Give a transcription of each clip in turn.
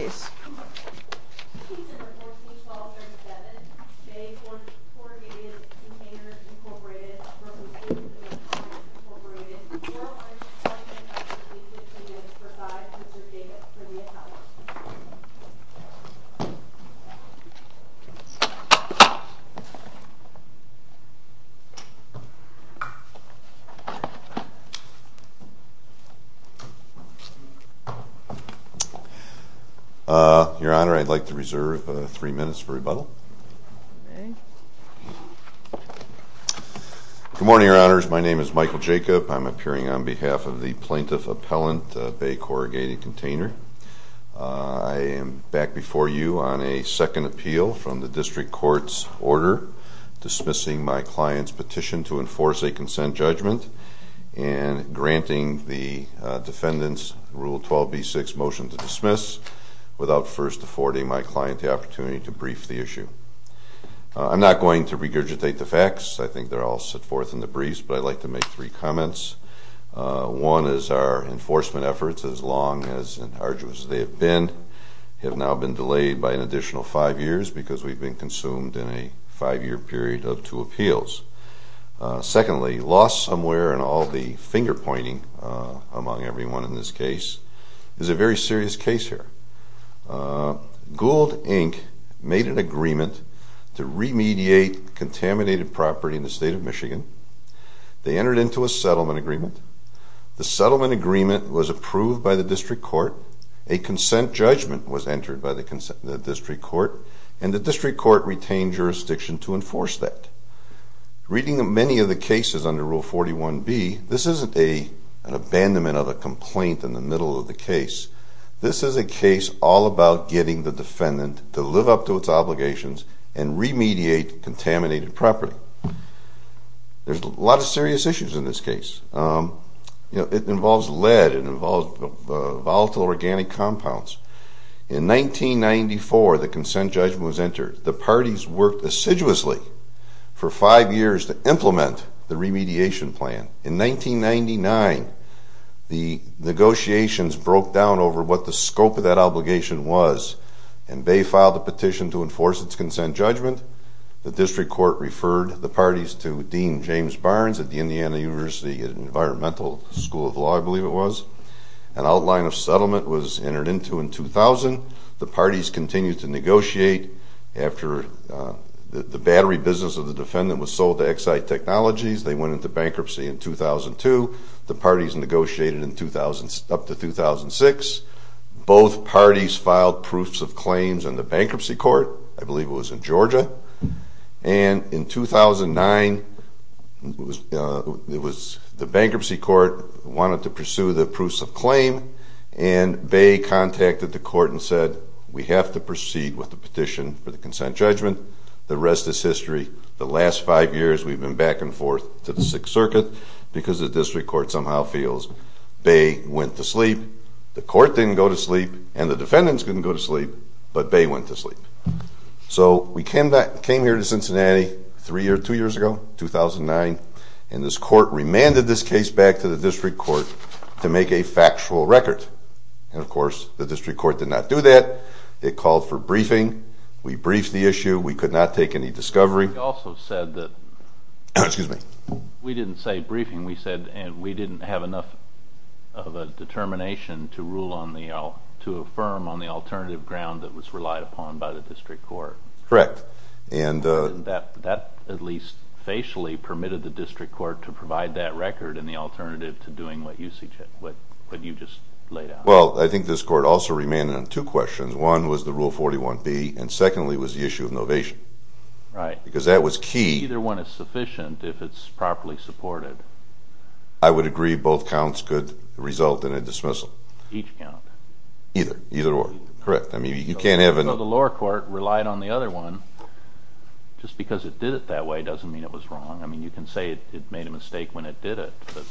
Inc., and a utilization of commercial vehicles which might have been prevented by the breaching Your Honor, I'd like to reserve three minutes for rebuttal. Good morning, your honors. My name is Michael Jacob. I'm appearing on behalf of the plaintiff appellant, Bay Corrugated Container. I am back before you on a second appeal from the district court's order. Dismissing my client's petition to enforce a consent judgment and granting the defendant's Rule 12B6 motion to dismiss, without first affording my client the opportunity to brief the issue. I'm not going to regurgitate the facts. I think they're all set forth in the briefs, but I'd like to make three comments. One is our enforcement efforts, as long and as arduous as they have been, have now been delayed by an additional five years because we've been consumed in a five year period of two appeals. Secondly, lost somewhere in all the finger-pointing among everyone in this case is a very serious case here. Gould, Inc. made an agreement to remediate contaminated property in the state of Michigan. They entered into a settlement agreement. The settlement agreement was approved by the district court. A consent judgment was entered by the district court. And the district court retained jurisdiction to enforce that. Reading many of the cases under Rule 41B, this isn't an abandonment of a complaint in the middle of the case. This is a case all about getting the defendant to live up to its obligations and remediate contaminated property. There's a lot of serious issues in this case. It involves lead, it involves volatile organic compounds. In 1994, the consent judgment was entered. The parties worked assiduously for five years to implement the remediation plan. In 1999, the negotiations broke down over what the scope of that obligation was. And they filed a petition to enforce its consent judgment. The district court referred the parties to Dean James Barnes at the Indiana University Environmental School of Law, I believe it was. An outline of settlement was entered into in 2000. The parties continued to negotiate after the battery business of the defendant was sold to Exide Technologies. They went into bankruptcy in 2002. The parties negotiated up to 2006. Both parties filed proofs of claims in the bankruptcy court. I believe it was in Georgia. And in 2009, the bankruptcy court wanted to pursue the proofs of claim, and Bay contacted the court and said, we have to proceed with the petition for the consent judgment. The rest is history. The last five years, we've been back and forth to the Sixth Circuit, because the district court somehow feels Bay went to sleep. The court didn't go to sleep, and the defendants didn't go to sleep, but Bay went to sleep. So we came here to Cincinnati three or two years ago, 2009. And this court remanded this case back to the district court to make a factual record. And of course, the district court did not do that. It called for briefing. We briefed the issue. We could not take any discovery. We also said that, excuse me, we didn't say briefing. We said, and we didn't have enough of a determination to rule on the, to affirm on the alternative ground that was relied upon by the district court. Correct. And that at least facially permitted the district court to provide that record and the alternative to doing what you just laid out. Well, I think this court also remanded on two questions. One was the Rule 41B, and secondly was the issue of novation. Right. Because that was key. Either one is sufficient if it's properly supported. I would agree both counts could result in a dismissal. Each count. Either. Either or. Correct. I mean, you can't have a- If the district court relied on the other one, just because it did it that way doesn't mean it was wrong. I mean, you can say it made a mistake when it did it, but-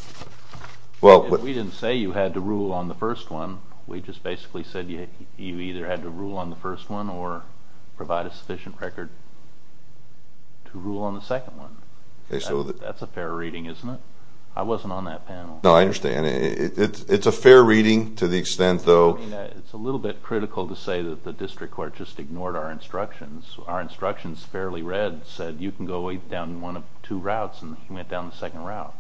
Well, we didn't say you had to rule on the first one. We just basically said you either had to rule on the first one or provide a sufficient record to rule on the second one. Okay, so- That's a fair reading, isn't it? I wasn't on that panel. No, I understand. It's a fair reading to the extent, though- It's a little bit critical to say that the district court just ignored our instructions. Our instructions, fairly read, said you can go down one of two routes, and he went down the second route.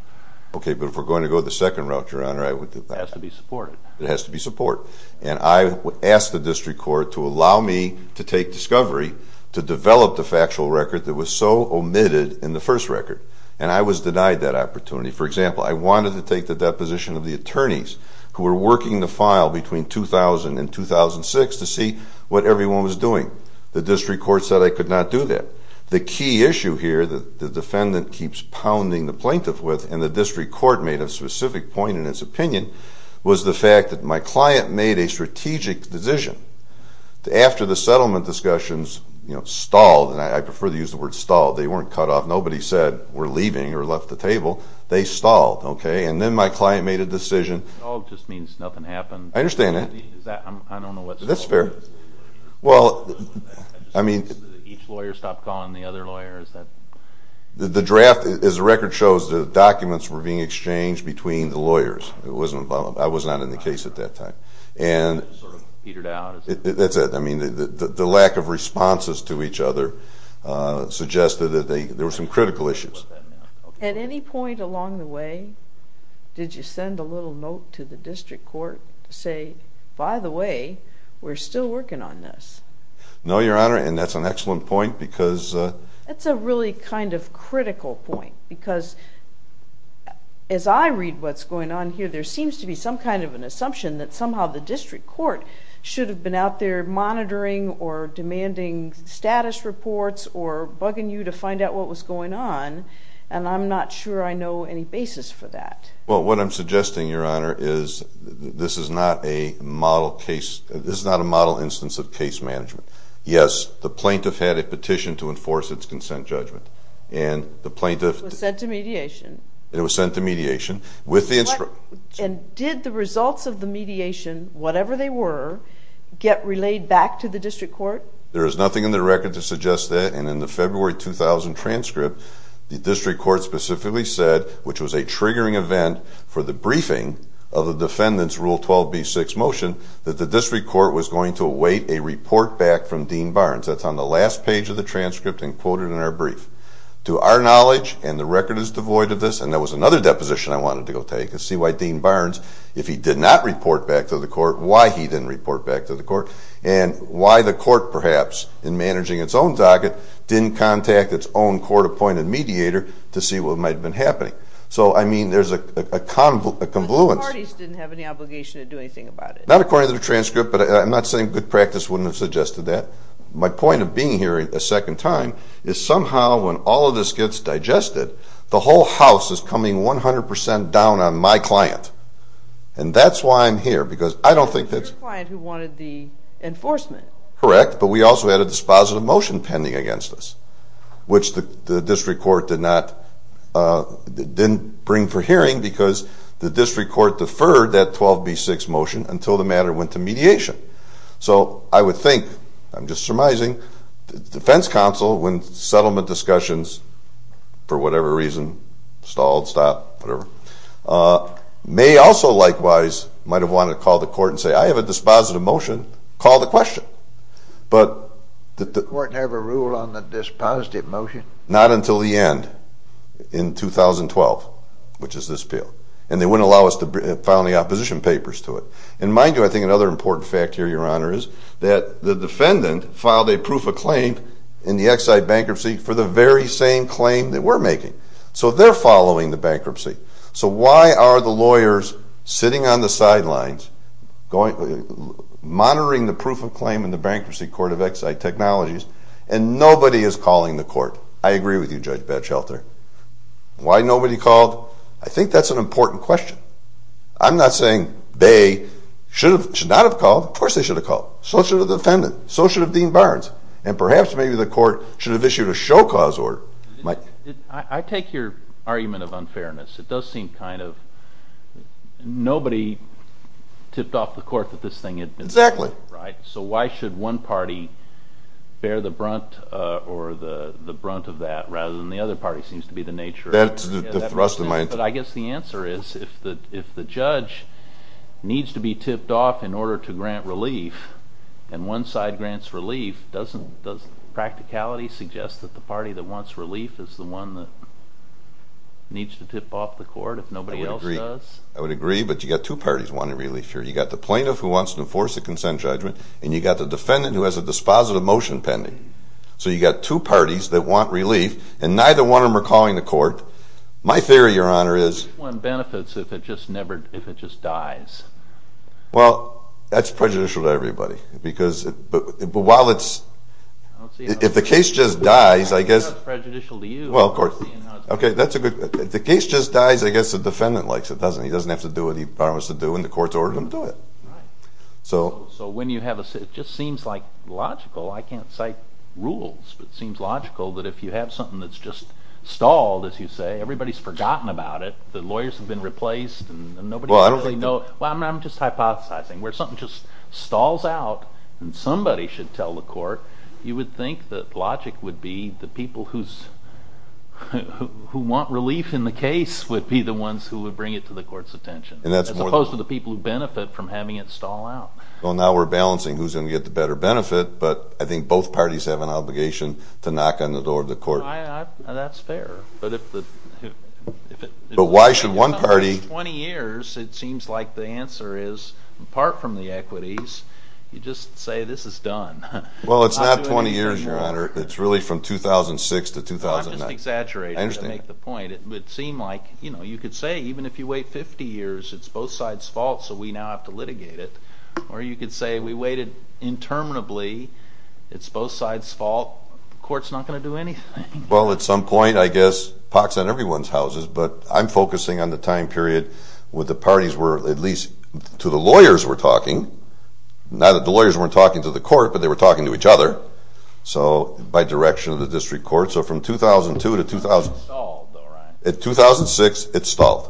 Okay, but if we're going to go the second route, Your Honor, I would- It has to be supported. It has to be support. And I asked the district court to allow me to take discovery, to develop the factual record that was so omitted in the first record. And I was denied that opportunity. For example, I wanted to take the deposition of the attorneys who were working the file between 2000 and 2006 to see what everyone was doing. The district court said I could not do that. The key issue here that the defendant keeps pounding the plaintiff with, and the district court made a specific point in its opinion, was the fact that my client made a strategic decision after the settlement discussions stalled, and I prefer to use the word stalled. They weren't cut off. Nobody said we're leaving or left the table. They stalled, okay? And then my client made a decision. Oh, it just means nothing happened. I understand that. I don't know what- That's fair. Well, I mean- Each lawyer stopped calling the other lawyers that- The draft, as the record shows, the documents were being exchanged between the lawyers. It wasn't about- I was not in the case at that time. And- Sort of petered out. That's it. I mean, the lack of responses to each other suggested that there were some critical issues. At any point along the way, did you send a little note to the district court to say, by the way, we're still working on this? No, Your Honor, and that's an excellent point because- That's a really kind of critical point because as I read what's going on here, there seems to be some kind of an assumption that somehow the district court should have been out there monitoring or demanding status reports or bugging you to find out what was going on. And I'm not sure I know any basis for that. Well, what I'm suggesting, Your Honor, is this is not a model case. This is not a model instance of case management. Yes, the plaintiff had a petition to enforce its consent judgment. And the plaintiff- It was sent to mediation. It was sent to mediation with the- And did the results of the mediation, whatever they were, get relayed back to the district court? There is nothing in the record to suggest that. And in the February 2000 transcript, the district court specifically said, which was a triggering event for the briefing of the defendant's Rule 12b6 motion, that the district court was going to await a report back from Dean Barnes. That's on the last page of the transcript and quoted in our brief. To our knowledge, and the record is devoid of this, and there was another deposition I wanted to go take to see why Dean Barnes, if he did not report back to the court, why he didn't report back to the court, and why the court, perhaps, in managing its own docket, didn't contact its own court-appointed mediator to see what might have been happening. So, I mean, there's a confluence. But the parties didn't have any obligation to do anything about it. Not according to the transcript, but I'm not saying good practice wouldn't have suggested that. My point of being here a second time is somehow when all of this gets digested, the whole house is coming 100% down on my client. And that's why I'm here, because I don't think that's- Enforcement. Correct, but we also had a dispositive motion pending against us, which the district court did not, didn't bring for hearing, because the district court deferred that 12B6 motion until the matter went to mediation. So, I would think, I'm just surmising, the defense counsel, when settlement discussions, for whatever reason, stalled, stopped, whatever, may also likewise might have wanted to call the court and say, I have a dispositive motion, call the question. But- The court never ruled on the dispositive motion? Not until the end, in 2012, which is this bill. And they wouldn't allow us to file any opposition papers to it. And mind you, I think another important fact here, Your Honor, is that the defendant filed a proof of claim in the Exide bankruptcy for the very same claim that we're making. So, they're following the bankruptcy. So, why are the lawyers sitting on the sidelines, monitoring the proof of claim in the bankruptcy court of Exide Technologies, and nobody is calling the court? I agree with you, Judge Batchelter. Why nobody called? I think that's an important question. I'm not saying they should not have called. Of course they should have called. So should the defendant. So should have Dean Barnes. And perhaps maybe the court should have issued a show cause order. I take your argument of unfairness. It does seem kind of... Nobody tipped off the court that this thing had been... Exactly. Right. So why should one party bear the brunt or the brunt of that, rather than the other party seems to be the nature... That's the thrust of my... But I guess the answer is, if the judge needs to be tipped off in order to grant relief, and one side grants relief, doesn't practicality suggest that the party that wants relief is the one that needs to tip off the court if nobody else does? I would agree. But you've got two parties wanting relief here. You've got the plaintiff who wants to enforce a consent judgment, and you've got the defendant who has a dispositive motion pending. So you've got two parties that want relief, and neither one of them are calling the court. My theory, Your Honor, is... Which one benefits if it just dies? Well, that's prejudicial to everybody. Because while it's... If the case just dies, I guess... That's prejudicial to you. Well, of course. Okay, that's a good... If the case just dies, I guess the defendant likes it, doesn't he? He doesn't have to do what he promised to do, and the court's ordered him to do it. Right. So... So when you have a... It just seems like logical. I can't cite rules, but it seems logical that if you have something that's just stalled, as you say, everybody's forgotten about it, the lawyers have been replaced, and nobody... Well, I don't think... Well, I'm just hypothesizing. Where something just stalls out, and somebody should tell the court, you would think that logic would be the people who want relief in the case would be the ones who would bring it to the court's attention. As opposed to the people who benefit from having it stall out. Well, now we're balancing who's going to get the better benefit, but I think both parties have an obligation to knock on the door of the court. That's fair. But if the... But why should one party... For 20 years, it seems like the answer is, apart from the equities, you just say, this is done. Well, it's not 20 years, Your Honor. It's really from 2006 to 2009. I'm just exaggerating to make the point. It would seem like, you know, you could say, even if you wait 50 years, it's both sides' fault, so we now have to litigate it. Or you could say, we waited interminably. It's both sides' fault. Court's not going to do anything. Well, at some point, I guess, pox on everyone's houses, but I'm focusing on the time period where the parties were, at least to the lawyers, were talking. Not that the lawyers weren't talking to the court, but they were talking to each other, so... By direction of the district court. So from 2002 to 2000... It stalled, though, right? In 2006, it stalled.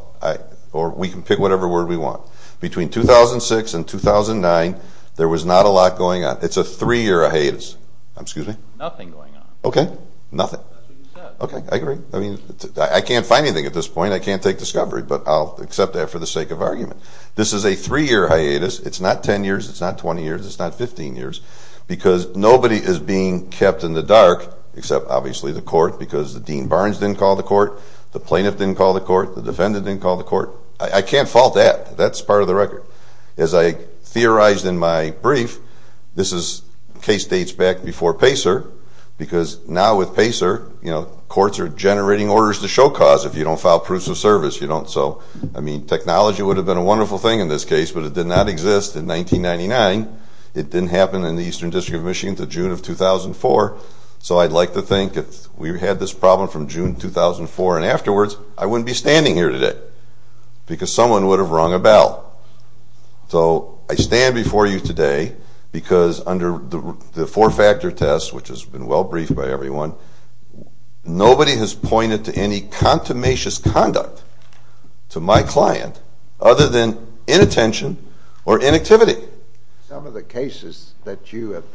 Or we can pick whatever word we want. Between 2006 and 2009, there was not a lot going on. It's a three-year hiatus. Excuse me? Nothing going on. Okay. Nothing. Okay, I agree. I mean, I can't find anything at this point. I can't take discovery, but I'll accept that for the sake of argument. This is a three-year hiatus. It's not 10 years. It's not 20 years. It's not 15 years. Because nobody is being kept in the dark, except obviously the court, because the Dean Barnes didn't call the court. The plaintiff didn't call the court. The defendant didn't call the court. I can't fault that. That's part of the record. As I theorized in my brief, this is case dates back before PACER, because now with PACER, you know, courts are generating orders to show cause. If you don't file proofs of service, you don't. So, I mean, technology would have been a wonderful thing in this case, but it did not exist in 1999. It didn't happen in the Eastern District of Michigan until June of 2004. So, I'd like to think if we had this problem from June 2004 and afterwards, I wouldn't be standing here today because someone would have rung a bell. So, I stand before you today because under the four-factor test, which has been well-briefed by everyone, nobody has pointed to any contumacious conduct to my client other than inattention or inactivity. Some of the cases that you have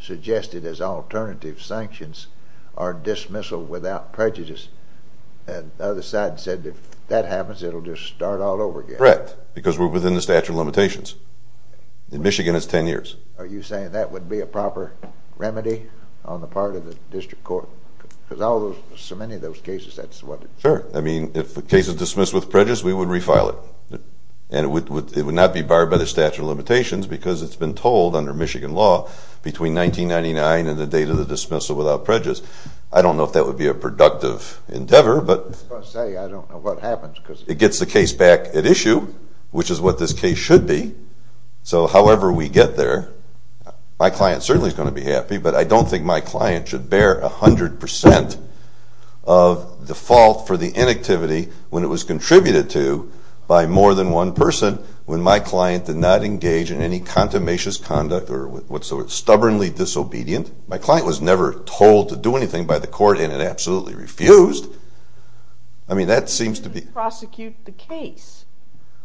suggested as alternative sanctions are dismissal without prejudice. And the other side said if that happens, it'll just start all over again. Correct, because we're within the statute of limitations. In Michigan, it's 10 years. Are you saying that would be a proper remedy on the part of the district court? Because so many of those cases, that's what it is. Sure. I mean, if the case is dismissed with prejudice, we would refile it. And it would not be barred by the statute of limitations because it's been told under Michigan law, between 1999 and the date of the dismissal without prejudice. I don't know if that would be a productive endeavor. But per se, I don't know what happens because it gets the case back at issue, which is what this case should be. So, however we get there, my client certainly is going to be happy, but I don't think my client should bear 100% of the fault for the inactivity when it was contributed to by more than one person when my client did not engage in any contumacious conduct or whatsoever, stubbornly disobedient. My client was never told to do anything by the court, and it absolutely refused. I mean, that seems to be- You didn't prosecute the case.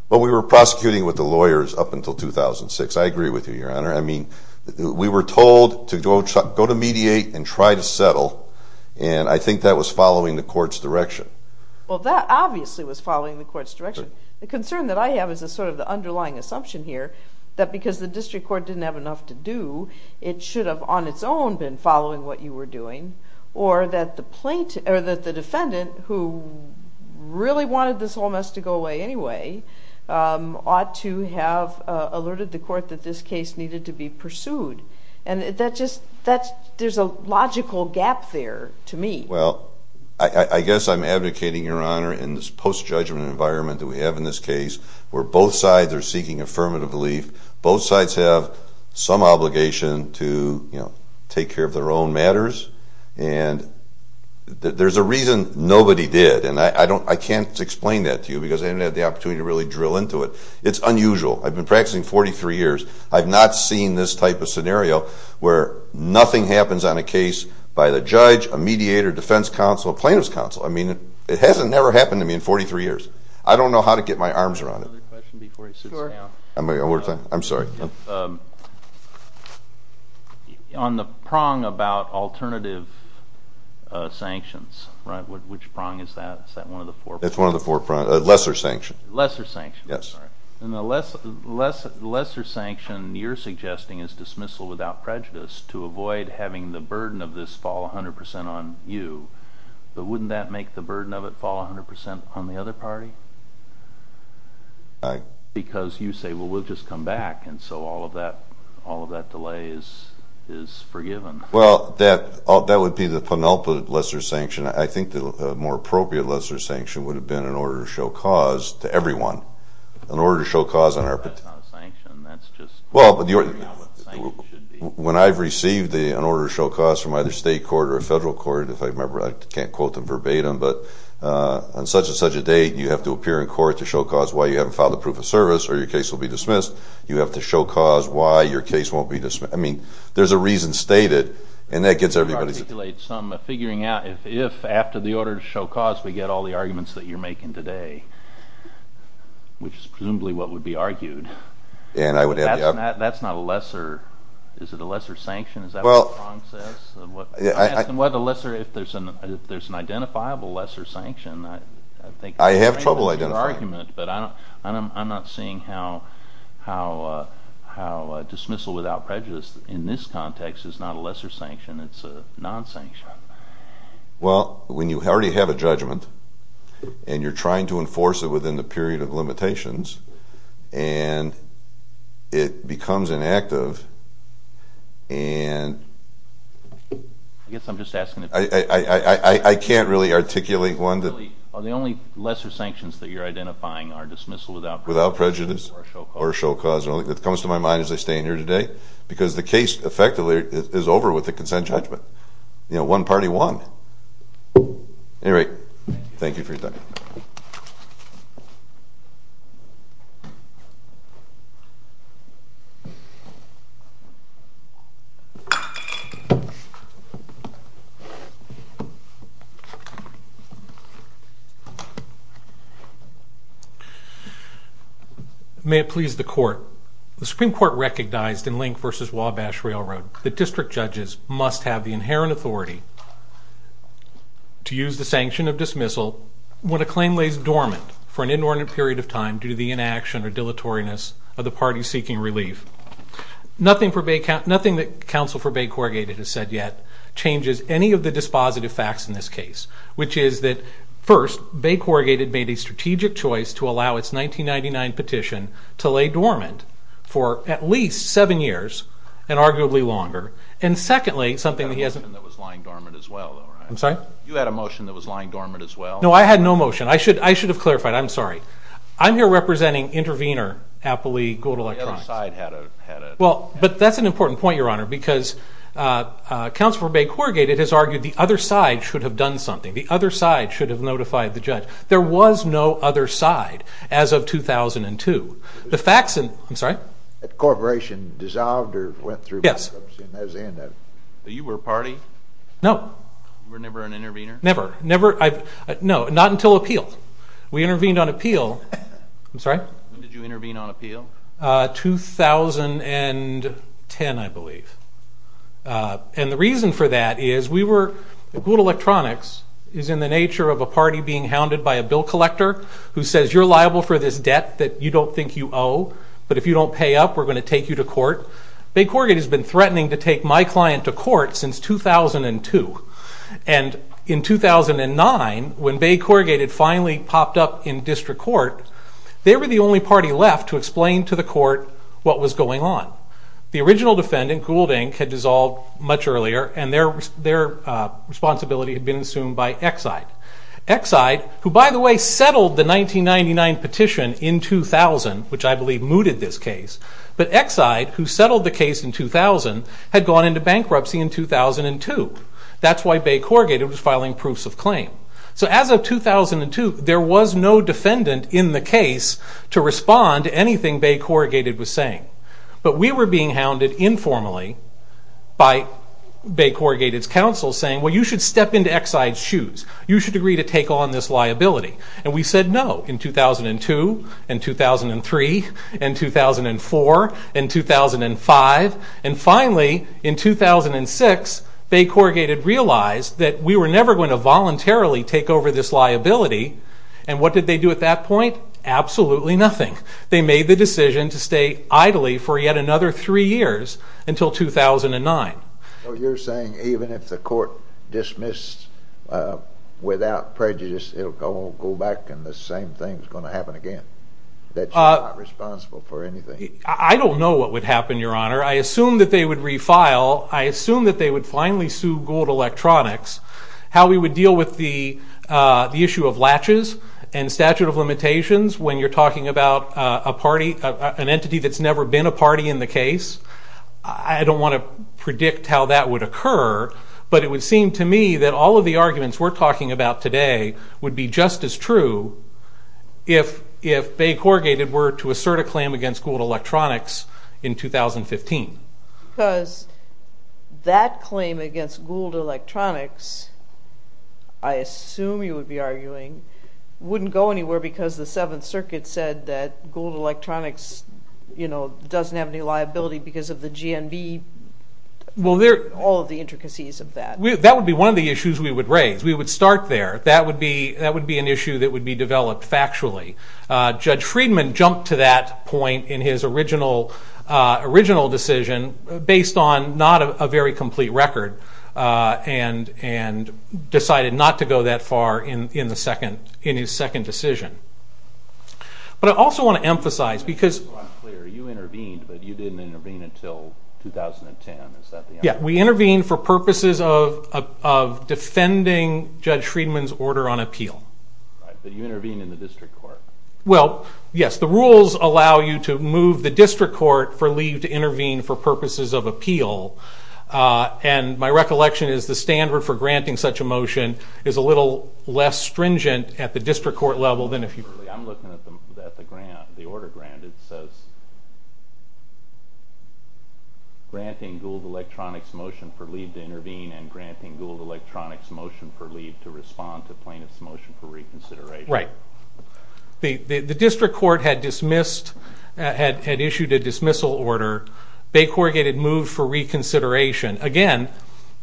Well, we were prosecuting with the lawyers up until 2006. I agree with you, Your Honor. I mean, we were told to go to mediate and try to settle. And I think that was following the court's direction. Well, that obviously was following the court's direction. The concern that I have is sort of the underlying assumption here that because the district court didn't have enough to do, it should have on its own been following what you were doing, or that the defendant, who really wanted this whole mess to go away anyway, ought to have alerted the court that this case needed to be pursued. And there's a logical gap there to me. Well, I guess I'm advocating, Your Honor, in this post-judgment environment that we have in this case, where both sides are seeking affirmative relief. Both sides have some obligation to take care of their own matters. And there's a reason nobody did. And I can't explain that to you because I haven't had the opportunity to really drill into it. It's unusual. I've been practicing 43 years. I've not seen this type of scenario where nothing happens on a case by the judge, a mediator, defense counsel, a plaintiff's counsel. I mean, it hasn't ever happened to me in 43 years. I don't know how to get my arms around it. Another question before he sits down. I'm sorry. On the prong about alternative sanctions, which prong is that? Is that one of the four prongs? It's one of the four prongs. Lesser sanctions. Lesser sanctions. Yes. And the lesser sanction you're suggesting is dismissal without prejudice to avoid having the burden of this fall 100% on you. But wouldn't that make the burden of it fall 100% on the other party? Because you say, well, we'll just come back. And so all of that delay is forgiven. Well, that would be the penultimate lesser sanction. I think the more appropriate lesser sanction would have been an order to show cause to everyone. An order to show cause on our part. That's not a sanction. That's just figuring out what a sanction should be. When I've received an order to show cause from either state court or a federal court, if I remember, I can't quote them verbatim. But on such and such a date, you have to appear in court to show cause why you haven't filed a proof of service or your case will be dismissed. You have to show cause why your case won't be dismissed. I mean, there's a reason stated. And that gets everybody's attention. Figuring out if, after the order to show cause, we get all the arguments that you're making today, which is presumably what would be argued. And I would add that. That's not a lesser. Is it a lesser sanction? Is that what the prong says? I'm asking what a lesser, if there's an identifiable lesser sanction. I have trouble identifying. But I'm not seeing how dismissal without prejudice, in this context, is not a lesser sanction. It's a non-sanction. Well, when you already have a judgment, and you're trying to enforce it within the period of limitations, and it becomes inactive, and I can't really articulate one that. Are the only lesser sanctions that you're identifying are dismissal without prejudice? Without prejudice. Or a show cause. Or a show cause. That comes to my mind as I stand here today. Because the case, effectively, is over with the consent judgment. One party won. Anyway, thank you for your time. May it please the court. The Supreme Court recognized in Link versus Wabash Railroad that district judges must have the inherent authority to use the sanction of dismissal when a claim lays dormant for an inordinate period of time due to the inaction or dilatoriness of the party seeking relief. Nothing that counsel for Bay Corrugated has said yet changes any of the dispositive facts in this case, which is that, first, Bay Corrugated made a strategic choice to allow its 1999 petition to lay dormant for at least seven years, and arguably longer. And secondly, something he hasn't. You had a motion that was lying dormant as well, though, right? I'm sorry? You had a motion that was lying dormant as well? No, I had no motion. I should have clarified. I'm sorry. I'm here representing intervener, Appley Gold Electronics. The other side had a motion. Well, but that's an important point, Your Honor. Because counsel for Bay Corrugated has argued the other side should have done something. The other side should have notified the judge. There was no other side as of 2002. The facts in, I'm sorry? That corporation dissolved or went through? Yes. And that was the end of it. So you were a party? No. You were never an intervener? Never. No, not until appeal. We intervened on appeal. I'm sorry? When did you intervene on appeal? 2010, I believe. And the reason for that is we were, Gold Electronics is in the nature of a party being founded by a bill collector who says, you're liable for this debt that you don't think you owe. But if you don't pay up, we're going to take you to court. Bay Corrugated has been threatening to take my client to court since 2002. And in 2009, when Bay Corrugated finally popped up in district court, they were the only party left to explain to the court what was going on. The original defendant, Gould, Inc. had dissolved much earlier. And their responsibility had been assumed by Exide. Exide, who, by the way, settled the 1999 petition in 2000, which I believe mooted this case. But Exide, who settled the case in 2000, had gone into bankruptcy in 2002. That's why Bay Corrugated was filing proofs of claim. So as of 2002, there was no defendant in the case to respond to anything Bay Corrugated was saying. But we were being hounded informally you should step into Exide's shoes. You should agree to take on this liability. And we said no in 2002, and 2003, and 2004, and 2005. And finally, in 2006, Bay Corrugated realized that we were never going to voluntarily take over this liability. And what did they do at that point? Absolutely nothing. They made the decision to stay idly for yet another three years until 2009. So you're saying even if the court dismissed without prejudice, it'll go back and the same thing's going to happen again? That you're not responsible for anything? I don't know what would happen, Your Honor. I assume that they would refile. I assume that they would finally sue Gold Electronics. How we would deal with the issue of latches and statute of limitations when you're talking about an entity that's never been a party in the case, I don't want to predict how that would occur. But it would seem to me that all of the arguments we're talking about today would be just as true if Bay Corrugated were to assert a claim against Gold Electronics in 2015. Because that claim against Gold Electronics, I assume you would be arguing, wouldn't go anywhere because the Seventh Circuit said that Gold Electronics doesn't have any liability because of the GNV, all of the intricacies of that. That would be one of the issues we would raise. We would start there. That would be an issue that would be developed factually. Judge Friedman jumped to that point in his original decision based on not a very complete record and decided not to go that far in his second decision. But I also want to emphasize because- Just so I'm clear, you intervened, but you didn't intervene until 2010, is that the- Yeah, we intervened for purposes of defending Judge Friedman's order on appeal. But you intervened in the district court. Well, yes, the rules allow you to move the district court for leave to intervene for purposes of appeal. And my recollection is the standard for granting such a motion is a little less stringent at the district court level than if you- I'm looking at the grant, the order grant. It says granting Gould Electronics motion for leave to intervene and granting Gould Electronics motion for leave to respond to plaintiff's motion for reconsideration. Right. The district court had issued a dismissal order. Bay Corrugated moved for reconsideration. Again,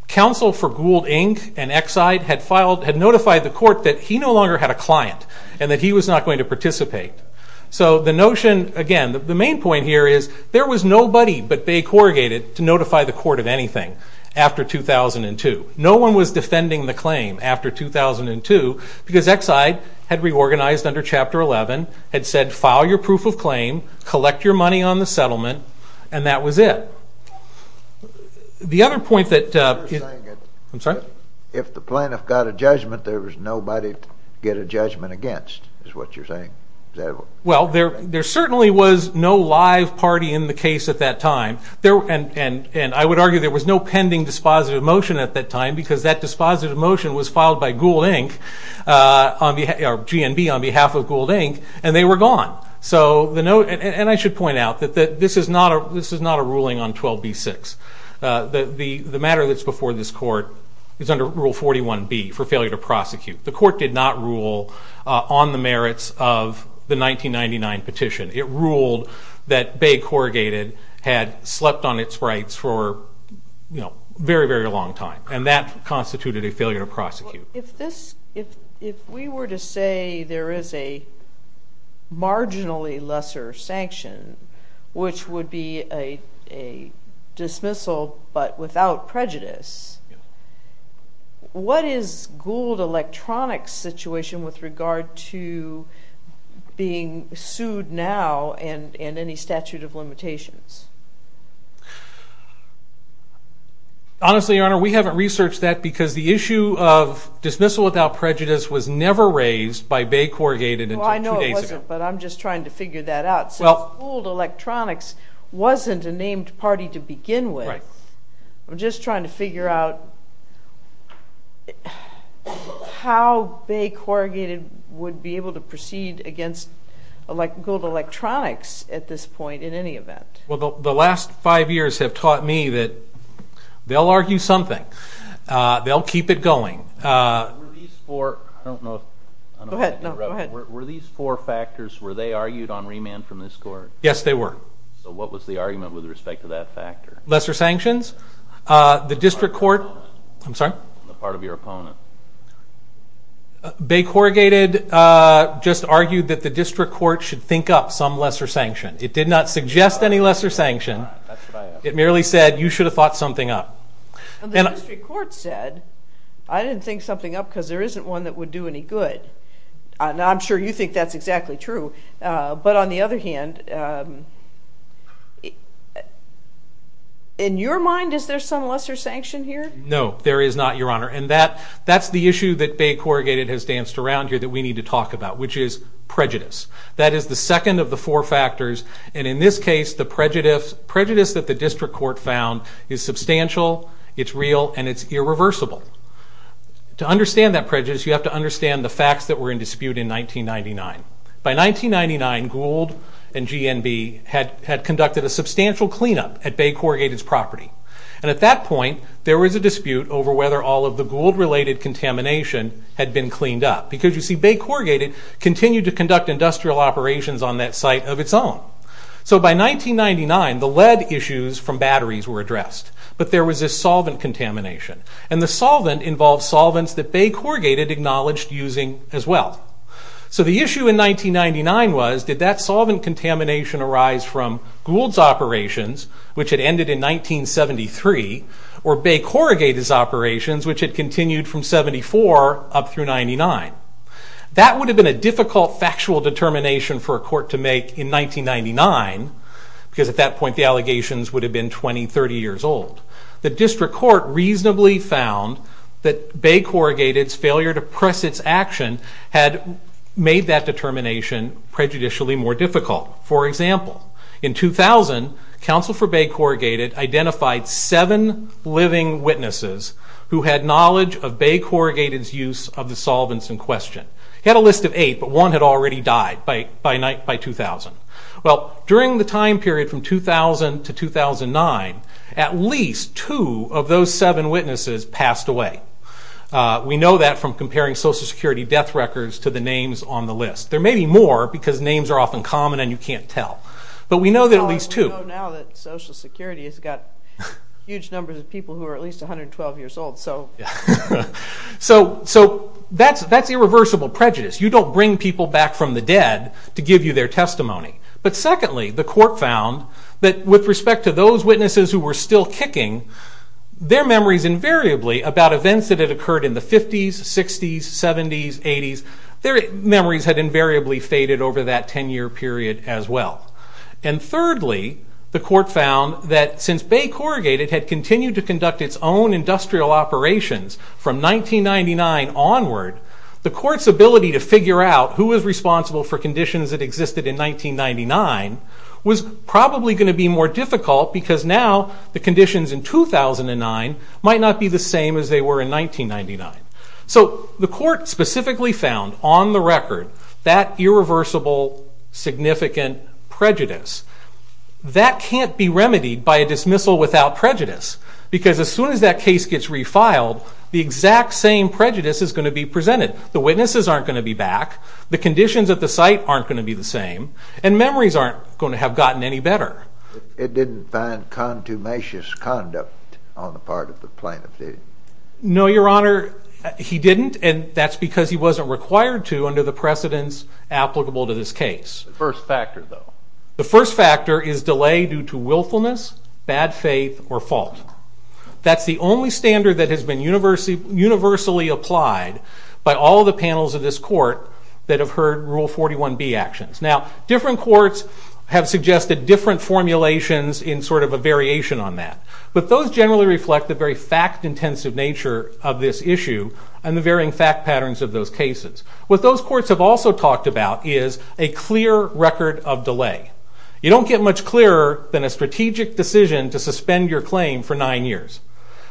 counsel for Gould, Inc. and Exide had notified the court that he no longer had a client and that he was not going to participate. So the notion, again, the main point here is there was nobody but Bay Corrugated to notify the court of anything after 2002. No one was defending the claim after 2002 because Exide had reorganized under Chapter 11, had said file your proof of claim, collect your money on the settlement, and that was it. The other point that- You're saying that- I'm sorry? If the plaintiff got a judgment, there was nobody to get a judgment against, is what you're saying. Well, there certainly was no live party in the case at that time. And I would argue there was no pending dispositive motion at that time because that dispositive motion was filed by Gould, Inc. or GNB on behalf of Gould, Inc. and they were gone. So the note, and I should point out that this is not a ruling on 12b-6. The matter that's before this court is under Rule 41b for failure to prosecute. The court did not rule on the merits of the 1999 petition. It ruled that Bay Corrugated had slept on its rights for a very, very long time. And that constituted a failure to prosecute. If we were to say there is a marginally lesser sanction, which would be a dismissal but without prejudice, what is Gould Electronics' situation with regard to being sued now and any statute of limitations? Honestly, Your Honor, we haven't researched that because the issue of dismissal without prejudice was never raised by Bay Corrugated until two days ago. I know it wasn't, but I'm just trying to figure that out. Since Gould Electronics wasn't a named party to begin with, I'm just trying to figure out how Bay Corrugated would be able to proceed against Gould Electronics at this point in any event. Well, the last five years have taught me that they'll argue something. They'll keep it going. Were these four factors, were they argued on remand from this court? Yes, they were. So what was the argument with respect to that factor? Lesser sanctions? The district court, I'm sorry? The part of your opponent. Bay Corrugated just argued that the district court should think up some lesser sanction. It did not suggest any lesser sanction. It merely said, you should have thought something up. And the district court said, I didn't think something up because there isn't one that would do any good. And I'm sure you think that's exactly true. But on the other hand, in your mind, is there some lesser sanction here? No, there is not, Your Honor. And that's the issue that Bay Corrugated has danced around here that we need to talk about, which is prejudice. That is the second of the four factors. And in this case, the prejudice that the district court found is substantial, it's real, and it's irreversible. To understand that prejudice, you have to understand the facts that were in dispute in 1999. By 1999, Gould and GNB had conducted a substantial cleanup at Bay Corrugated's property. And at that point, there was a dispute over whether all of the Gould-related contamination had been cleaned up. Because you see, Bay Corrugated continued to conduct industrial operations on that site of its own. So by 1999, the lead issues from batteries were addressed. But there was this solvent contamination. And the solvent involved solvents that Bay Corrugated acknowledged using as well. So the issue in 1999 was, did that solvent contamination arise from Gould's operations, which had ended in 1973, or Bay Corrugated's operations, which had continued from 74 up through 99? That would have been a difficult factual determination for a court to make in 1999, because at that point, the allegations would have been 20, 30 years old. The district court reasonably found that Bay Corrugated's failure to press its action had made that determination prejudicially more difficult. For example, in 2000, counsel for Bay Corrugated identified seven living witnesses who had knowledge of Bay Corrugated's use of the solvents in question. He had a list of eight, but one had already died by 2000. Well, during the time period from 2000 to 2009, at least two of those seven witnesses passed away. We know that from comparing Social Security death records to the names on the list. There may be more, because names are often common and you can't tell. But we know that at least two. We know now that Social Security has got huge numbers of people who are at least 112 years old. So that's irreversible prejudice. You don't bring people back from the dead to give you their testimony. But secondly, the court found that with respect to those witnesses who were still kicking, their memories invariably about events that had occurred in the 50s, 60s, 70s, 80s, their memories had invariably faded over that 10-year period as well. And thirdly, the court found that since Bay Corrugated had continued to conduct its own industrial operations from 1999 onward, the court's ability to figure out who was responsible for conditions that existed in 1999 was probably going to be more difficult, because now the conditions in 2009 might not be the same as they were in 1999. So the court specifically found on the record that irreversible significant prejudice. That can't be remedied by a dismissal without prejudice, because as soon as that case gets refiled, the exact same prejudice is going to be presented. The witnesses aren't going to be back, the conditions at the site aren't going to be the same, and memories aren't going to have gotten any better. It didn't find contumacious conduct on the part of the plaintiff, did it? No, Your Honor, he didn't, and that's because he wasn't required to under the precedents applicable to this case. First factor, though. The first factor is delay due to willfulness, bad faith, or fault. That's the only standard that has been universally applied by all the panels of this court that have heard Rule 41b actions. Now, different courts have suggested different formulations in sort of a variation on that, but those generally reflect the very fact-intensive nature of this issue and the varying fact patterns of those cases. What those courts have also talked about is a clear record of delay. You don't get much clearer than a strategic decision to suspend your claim for nine years.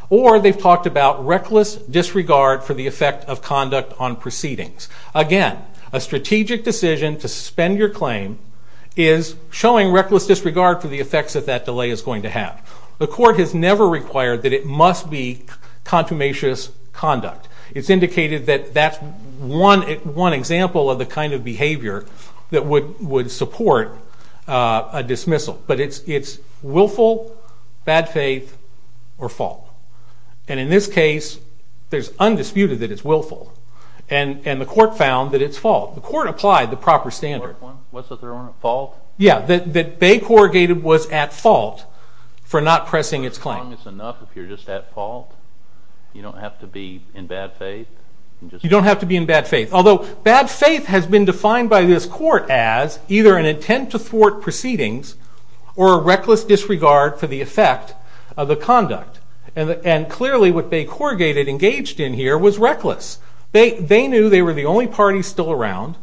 Or they've talked about reckless disregard for the effect of conduct on proceedings. Again, a strategic decision to suspend your claim is showing reckless disregard for the effects that that delay is going to have. The court has never required that it must be contumacious conduct. It's indicated that that's one example of the kind of behavior that would support a dismissal. But it's willful, bad faith, or fault. And in this case, there's undisputed that it's willful. And the court found that it's fault. The court applied the proper standard. What's the third one? Fault? Yeah, that Bay Corrugated was at fault for not pressing its claim. As long as it's enough if you're just at fault. You don't have to be in bad faith. You don't have to be in bad faith. Although, bad faith has been defined by this court as either an intent to thwart proceedings or a reckless disregard for the effect of the conduct. And clearly, what Bay Corrugated engaged in here was reckless. They knew they were the only party still around.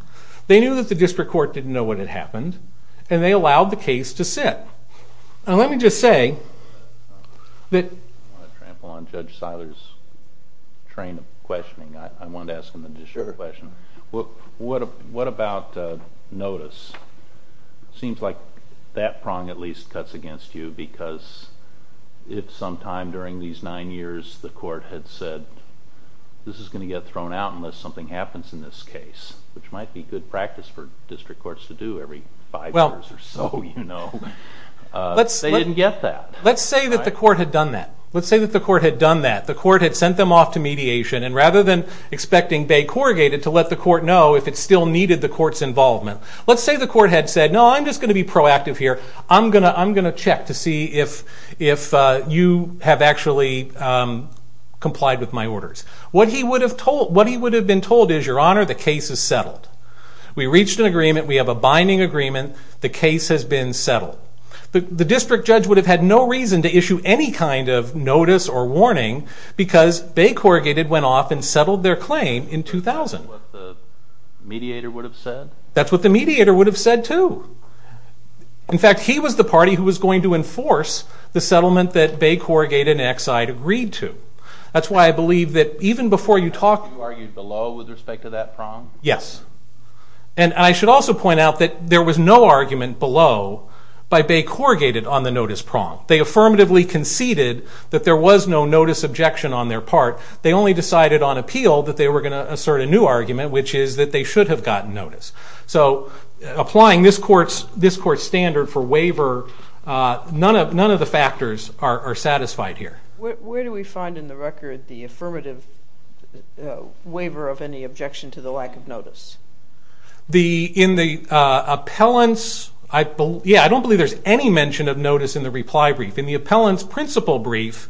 They knew that the district court didn't know what had happened. And they allowed the case to sit. Now, let me just say that. I want to trample on Judge Seiler's train of questioning. I wanted to ask him an additional question. What about notice? Seems like that prong at least cuts against you because if sometime during these nine years the court had said, this is going to get thrown out unless something happens in this case, which might be good practice for district courts to do every five years or so, they didn't get that. Let's say that the court had done that. Let's say that the court had done that. The court had sent them off to mediation. And rather than expecting Bay Corrugated to let the court know if it still needed the court's involvement, let's say the court had said, no, I'm just going to be proactive here. I'm going to check to see if you have actually complied with my orders. What he would have been told is, your honor, the case is settled. We reached an agreement. We have a binding agreement. The case has been settled. The district judge would have had no reason to issue any kind of notice or warning because Bay Corrugated went off and settled their claim in 2000. That's what the mediator would have said? That's what the mediator would have said, too. In fact, he was the party who was going to enforce the settlement that Bay Corrugated and Exide agreed to. That's why I believe that even before you talk You argued below with respect to that prong? Yes. And I should also point out that there was no argument below by Bay Corrugated on the notice prong. They affirmatively conceded that there was no notice objection on their part. They only decided on appeal that they were going to assert a new argument, which is that they should have gotten notice. So applying this court's standard for waiver, none of the factors are satisfied here. Where do we find in the record the affirmative waiver of any objection to the lack of notice? I don't believe there's any mention of notice in the reply brief. In the appellant's principal brief,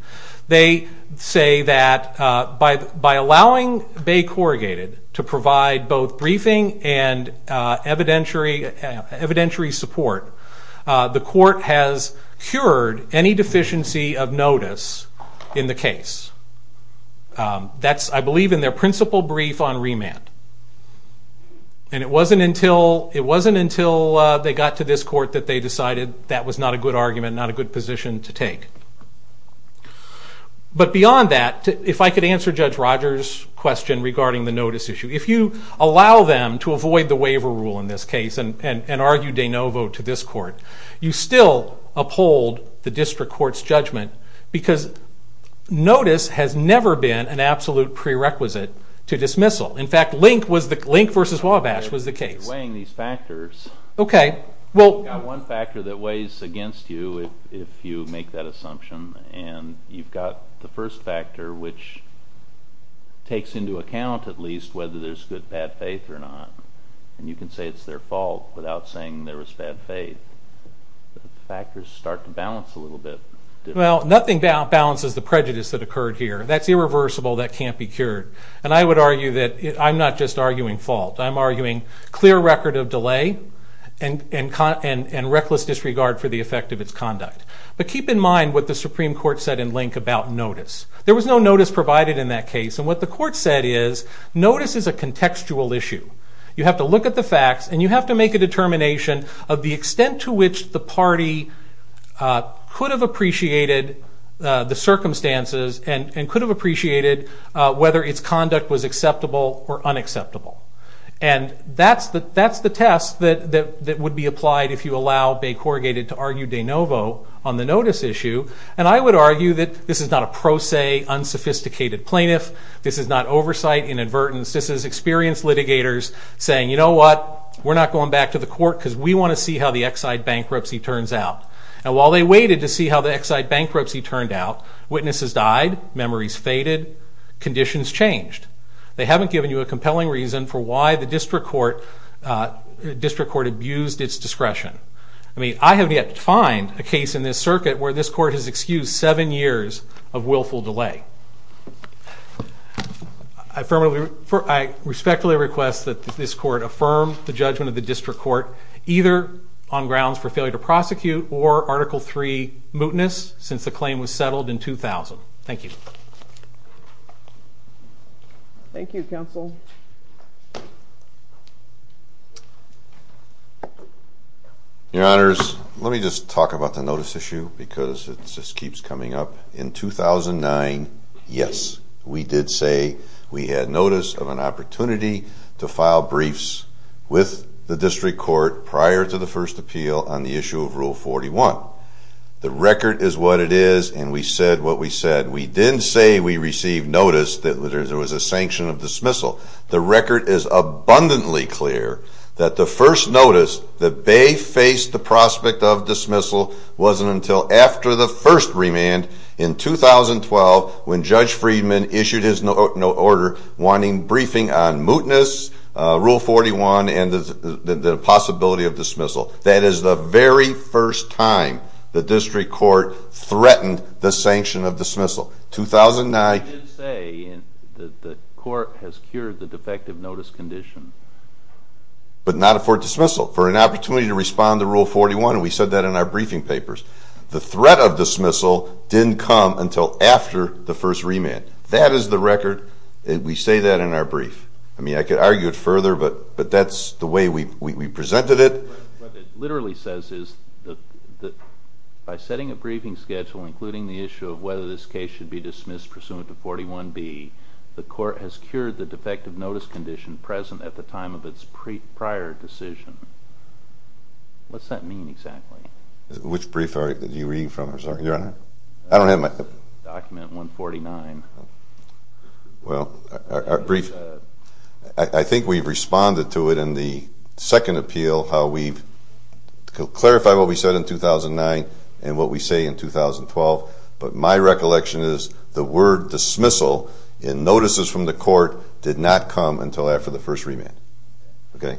they say that by allowing Bay Corrugated to provide both briefing and evidentiary support, the court has cured any deficiency of notice in the case. I believe in their principal brief on remand. And it wasn't until they got to this court that they decided that was not a good argument, not a good position to take. But beyond that, if I could answer Judge Rogers' question regarding the notice issue. If you allow them to avoid the waiver rule in this case and argue de novo to this court, you still uphold the district court's judgment because notice has never been an absolute prerequisite to dismissal. In fact, Link v. Wabash was the case. Weighing these factors, you've got one factor that weighs against you if you make that assumption. And you've got the first factor, which takes into account at least whether there's good or bad faith or not. And you can say it's their fault without saying there was bad faith. Factors start to balance a little bit. Well, nothing balances the prejudice that occurred here. That's irreversible. That can't be cured. And I would argue that I'm not just arguing fault. I'm arguing clear record of delay and reckless disregard for the effect of its conduct. But keep in mind what the Supreme Court said in Link about notice. There was no notice provided in that case. And what the court said is notice is a contextual issue. You have to look at the facts. And you have to make a determination of the extent to which the party could have appreciated the circumstances and could have appreciated whether its conduct was acceptable or unacceptable. And that's the test that would be applied if you allow Bay Corrugated to argue de novo on the notice issue. And I would argue that this is not pro se, unsophisticated plaintiff. This is not oversight, inadvertence. This is experienced litigators saying, you know what? We're not going back to the court, because we want to see how the Exide bankruptcy turns out. And while they waited to see how the Exide bankruptcy turned out, witnesses died, memories faded, conditions changed. They haven't given you a compelling reason for why the district court abused its discretion. I mean, I have yet to find a case in this circuit where this court has excused seven years of willful delay. I respectfully request that this court affirm the judgment of the district court, either on grounds for failure to prosecute or Article III mootness, since the claim was settled in 2000. Thank you. Thank you, counsel. Your Honors, let me just talk about the notice issue, because it just keeps coming up. In 2009, yes, we did say we had notice of an opportunity to file briefs with the district court prior to the first appeal on the issue of Rule 41. The record is what it is, and we said what we said. We didn't say we received notice that there was a sanction of dismissal. The record is abundantly clear that the first notice that they faced the prospect of dismissal wasn't until after the first remand in 2012, when Judge Friedman issued his note of order, wanting briefing on mootness, Rule 41, and the possibility of dismissal. That is the very first time the district court threatened the sanction of dismissal. 2009. But you did say that the court has cured the defective notice condition. But not for dismissal. For an opportunity to respond to Rule 41, and we said that in our briefing papers. The threat of dismissal didn't come until after the first remand. That is the record. We say that in our brief. I mean, I could argue it further, but that's the way we presented it. What it literally says is that by setting a briefing schedule, including the issue of whether this case should be dismissed pursuant to 41B, the court has cured the defective notice condition present at the time of its prior decision. What's that mean, exactly? Which brief are you reading from, Your Honor? I don't have my thing. Document 149. Well, our brief, I think we've responded to it in the second appeal, how we've clarified what we said in 2009 and what we say in 2012. But my recollection is the word dismissal in notices from the court did not come until after the first remand.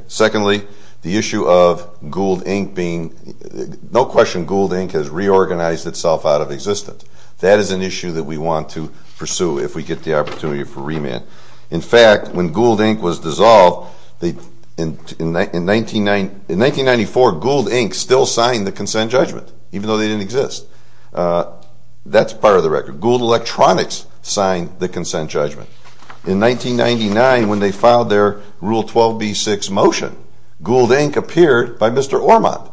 Secondly, the issue of Gould, Inc. being, no question, Gould, Inc. has reorganized itself out of existence. That is an issue that we want to pursue if we get the opportunity for remand. In fact, when Gould, Inc. was dissolved, in 1994, Gould, Inc. still signed the consent judgment, even though they didn't exist. That's part of the record. Gould Electronics signed the consent judgment. In 1999, when they filed their Rule 12b-6 motion, Gould, Inc. appeared by Mr. Ormond.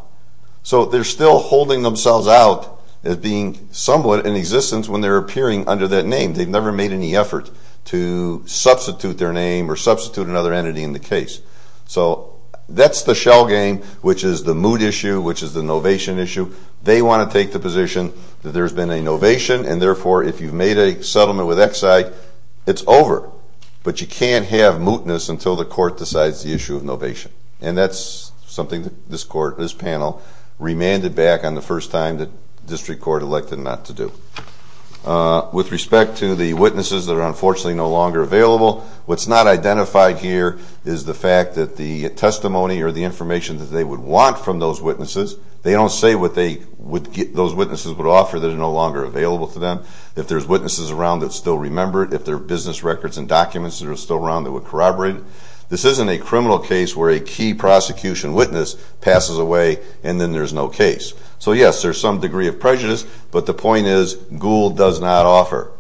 So they're still holding themselves out as being somewhat in existence when they're appearing under that name. They've never made any effort to substitute their name or substitute another entity in the case. So that's the shell game, which is the mood issue, which is the novation issue. They want to take the position that there's been a novation. And therefore, if you've made a settlement with Exide, it's over. But you can't have mootness until the court decides the issue of novation. And that's something that this court, this panel, remanded back on the first time that district court elected not to do. With respect to the witnesses that are unfortunately no longer available, what's not identified here is the fact that the testimony or the information that they would want from those witnesses, they don't say what those witnesses would offer that is no longer available to them. If there's witnesses around that still remember it, if there are business records and documents that are still around that would corroborate it, this isn't a criminal case where a key prosecution witness passes away and then there's no case. So yes, there's some degree of prejudice. But the point is, Gould does not offer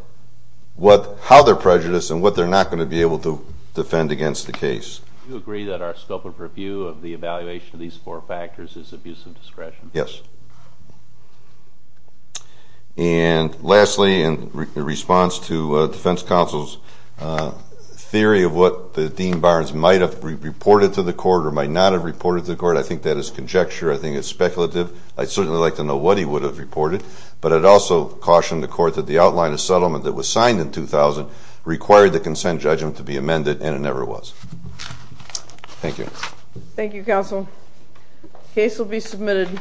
how they're prejudiced and what they're not going to be able to defend against the case. Do you agree that our scope of review of the evaluation of these four factors is abuse of discretion? Yes. And lastly, in response to defense counsel's theory of what the Dean Barnes might have reported to the court or might not have reported to the court, I think that is conjecture. I think it's speculative. I'd certainly like to know what he would have reported. But I'd also caution the court that the outline of settlement that was signed in 2000 required the consent judgment to be amended, and it never was. Thank you. Thank you, counsel. Case will be submitted in the next two days. Thank you.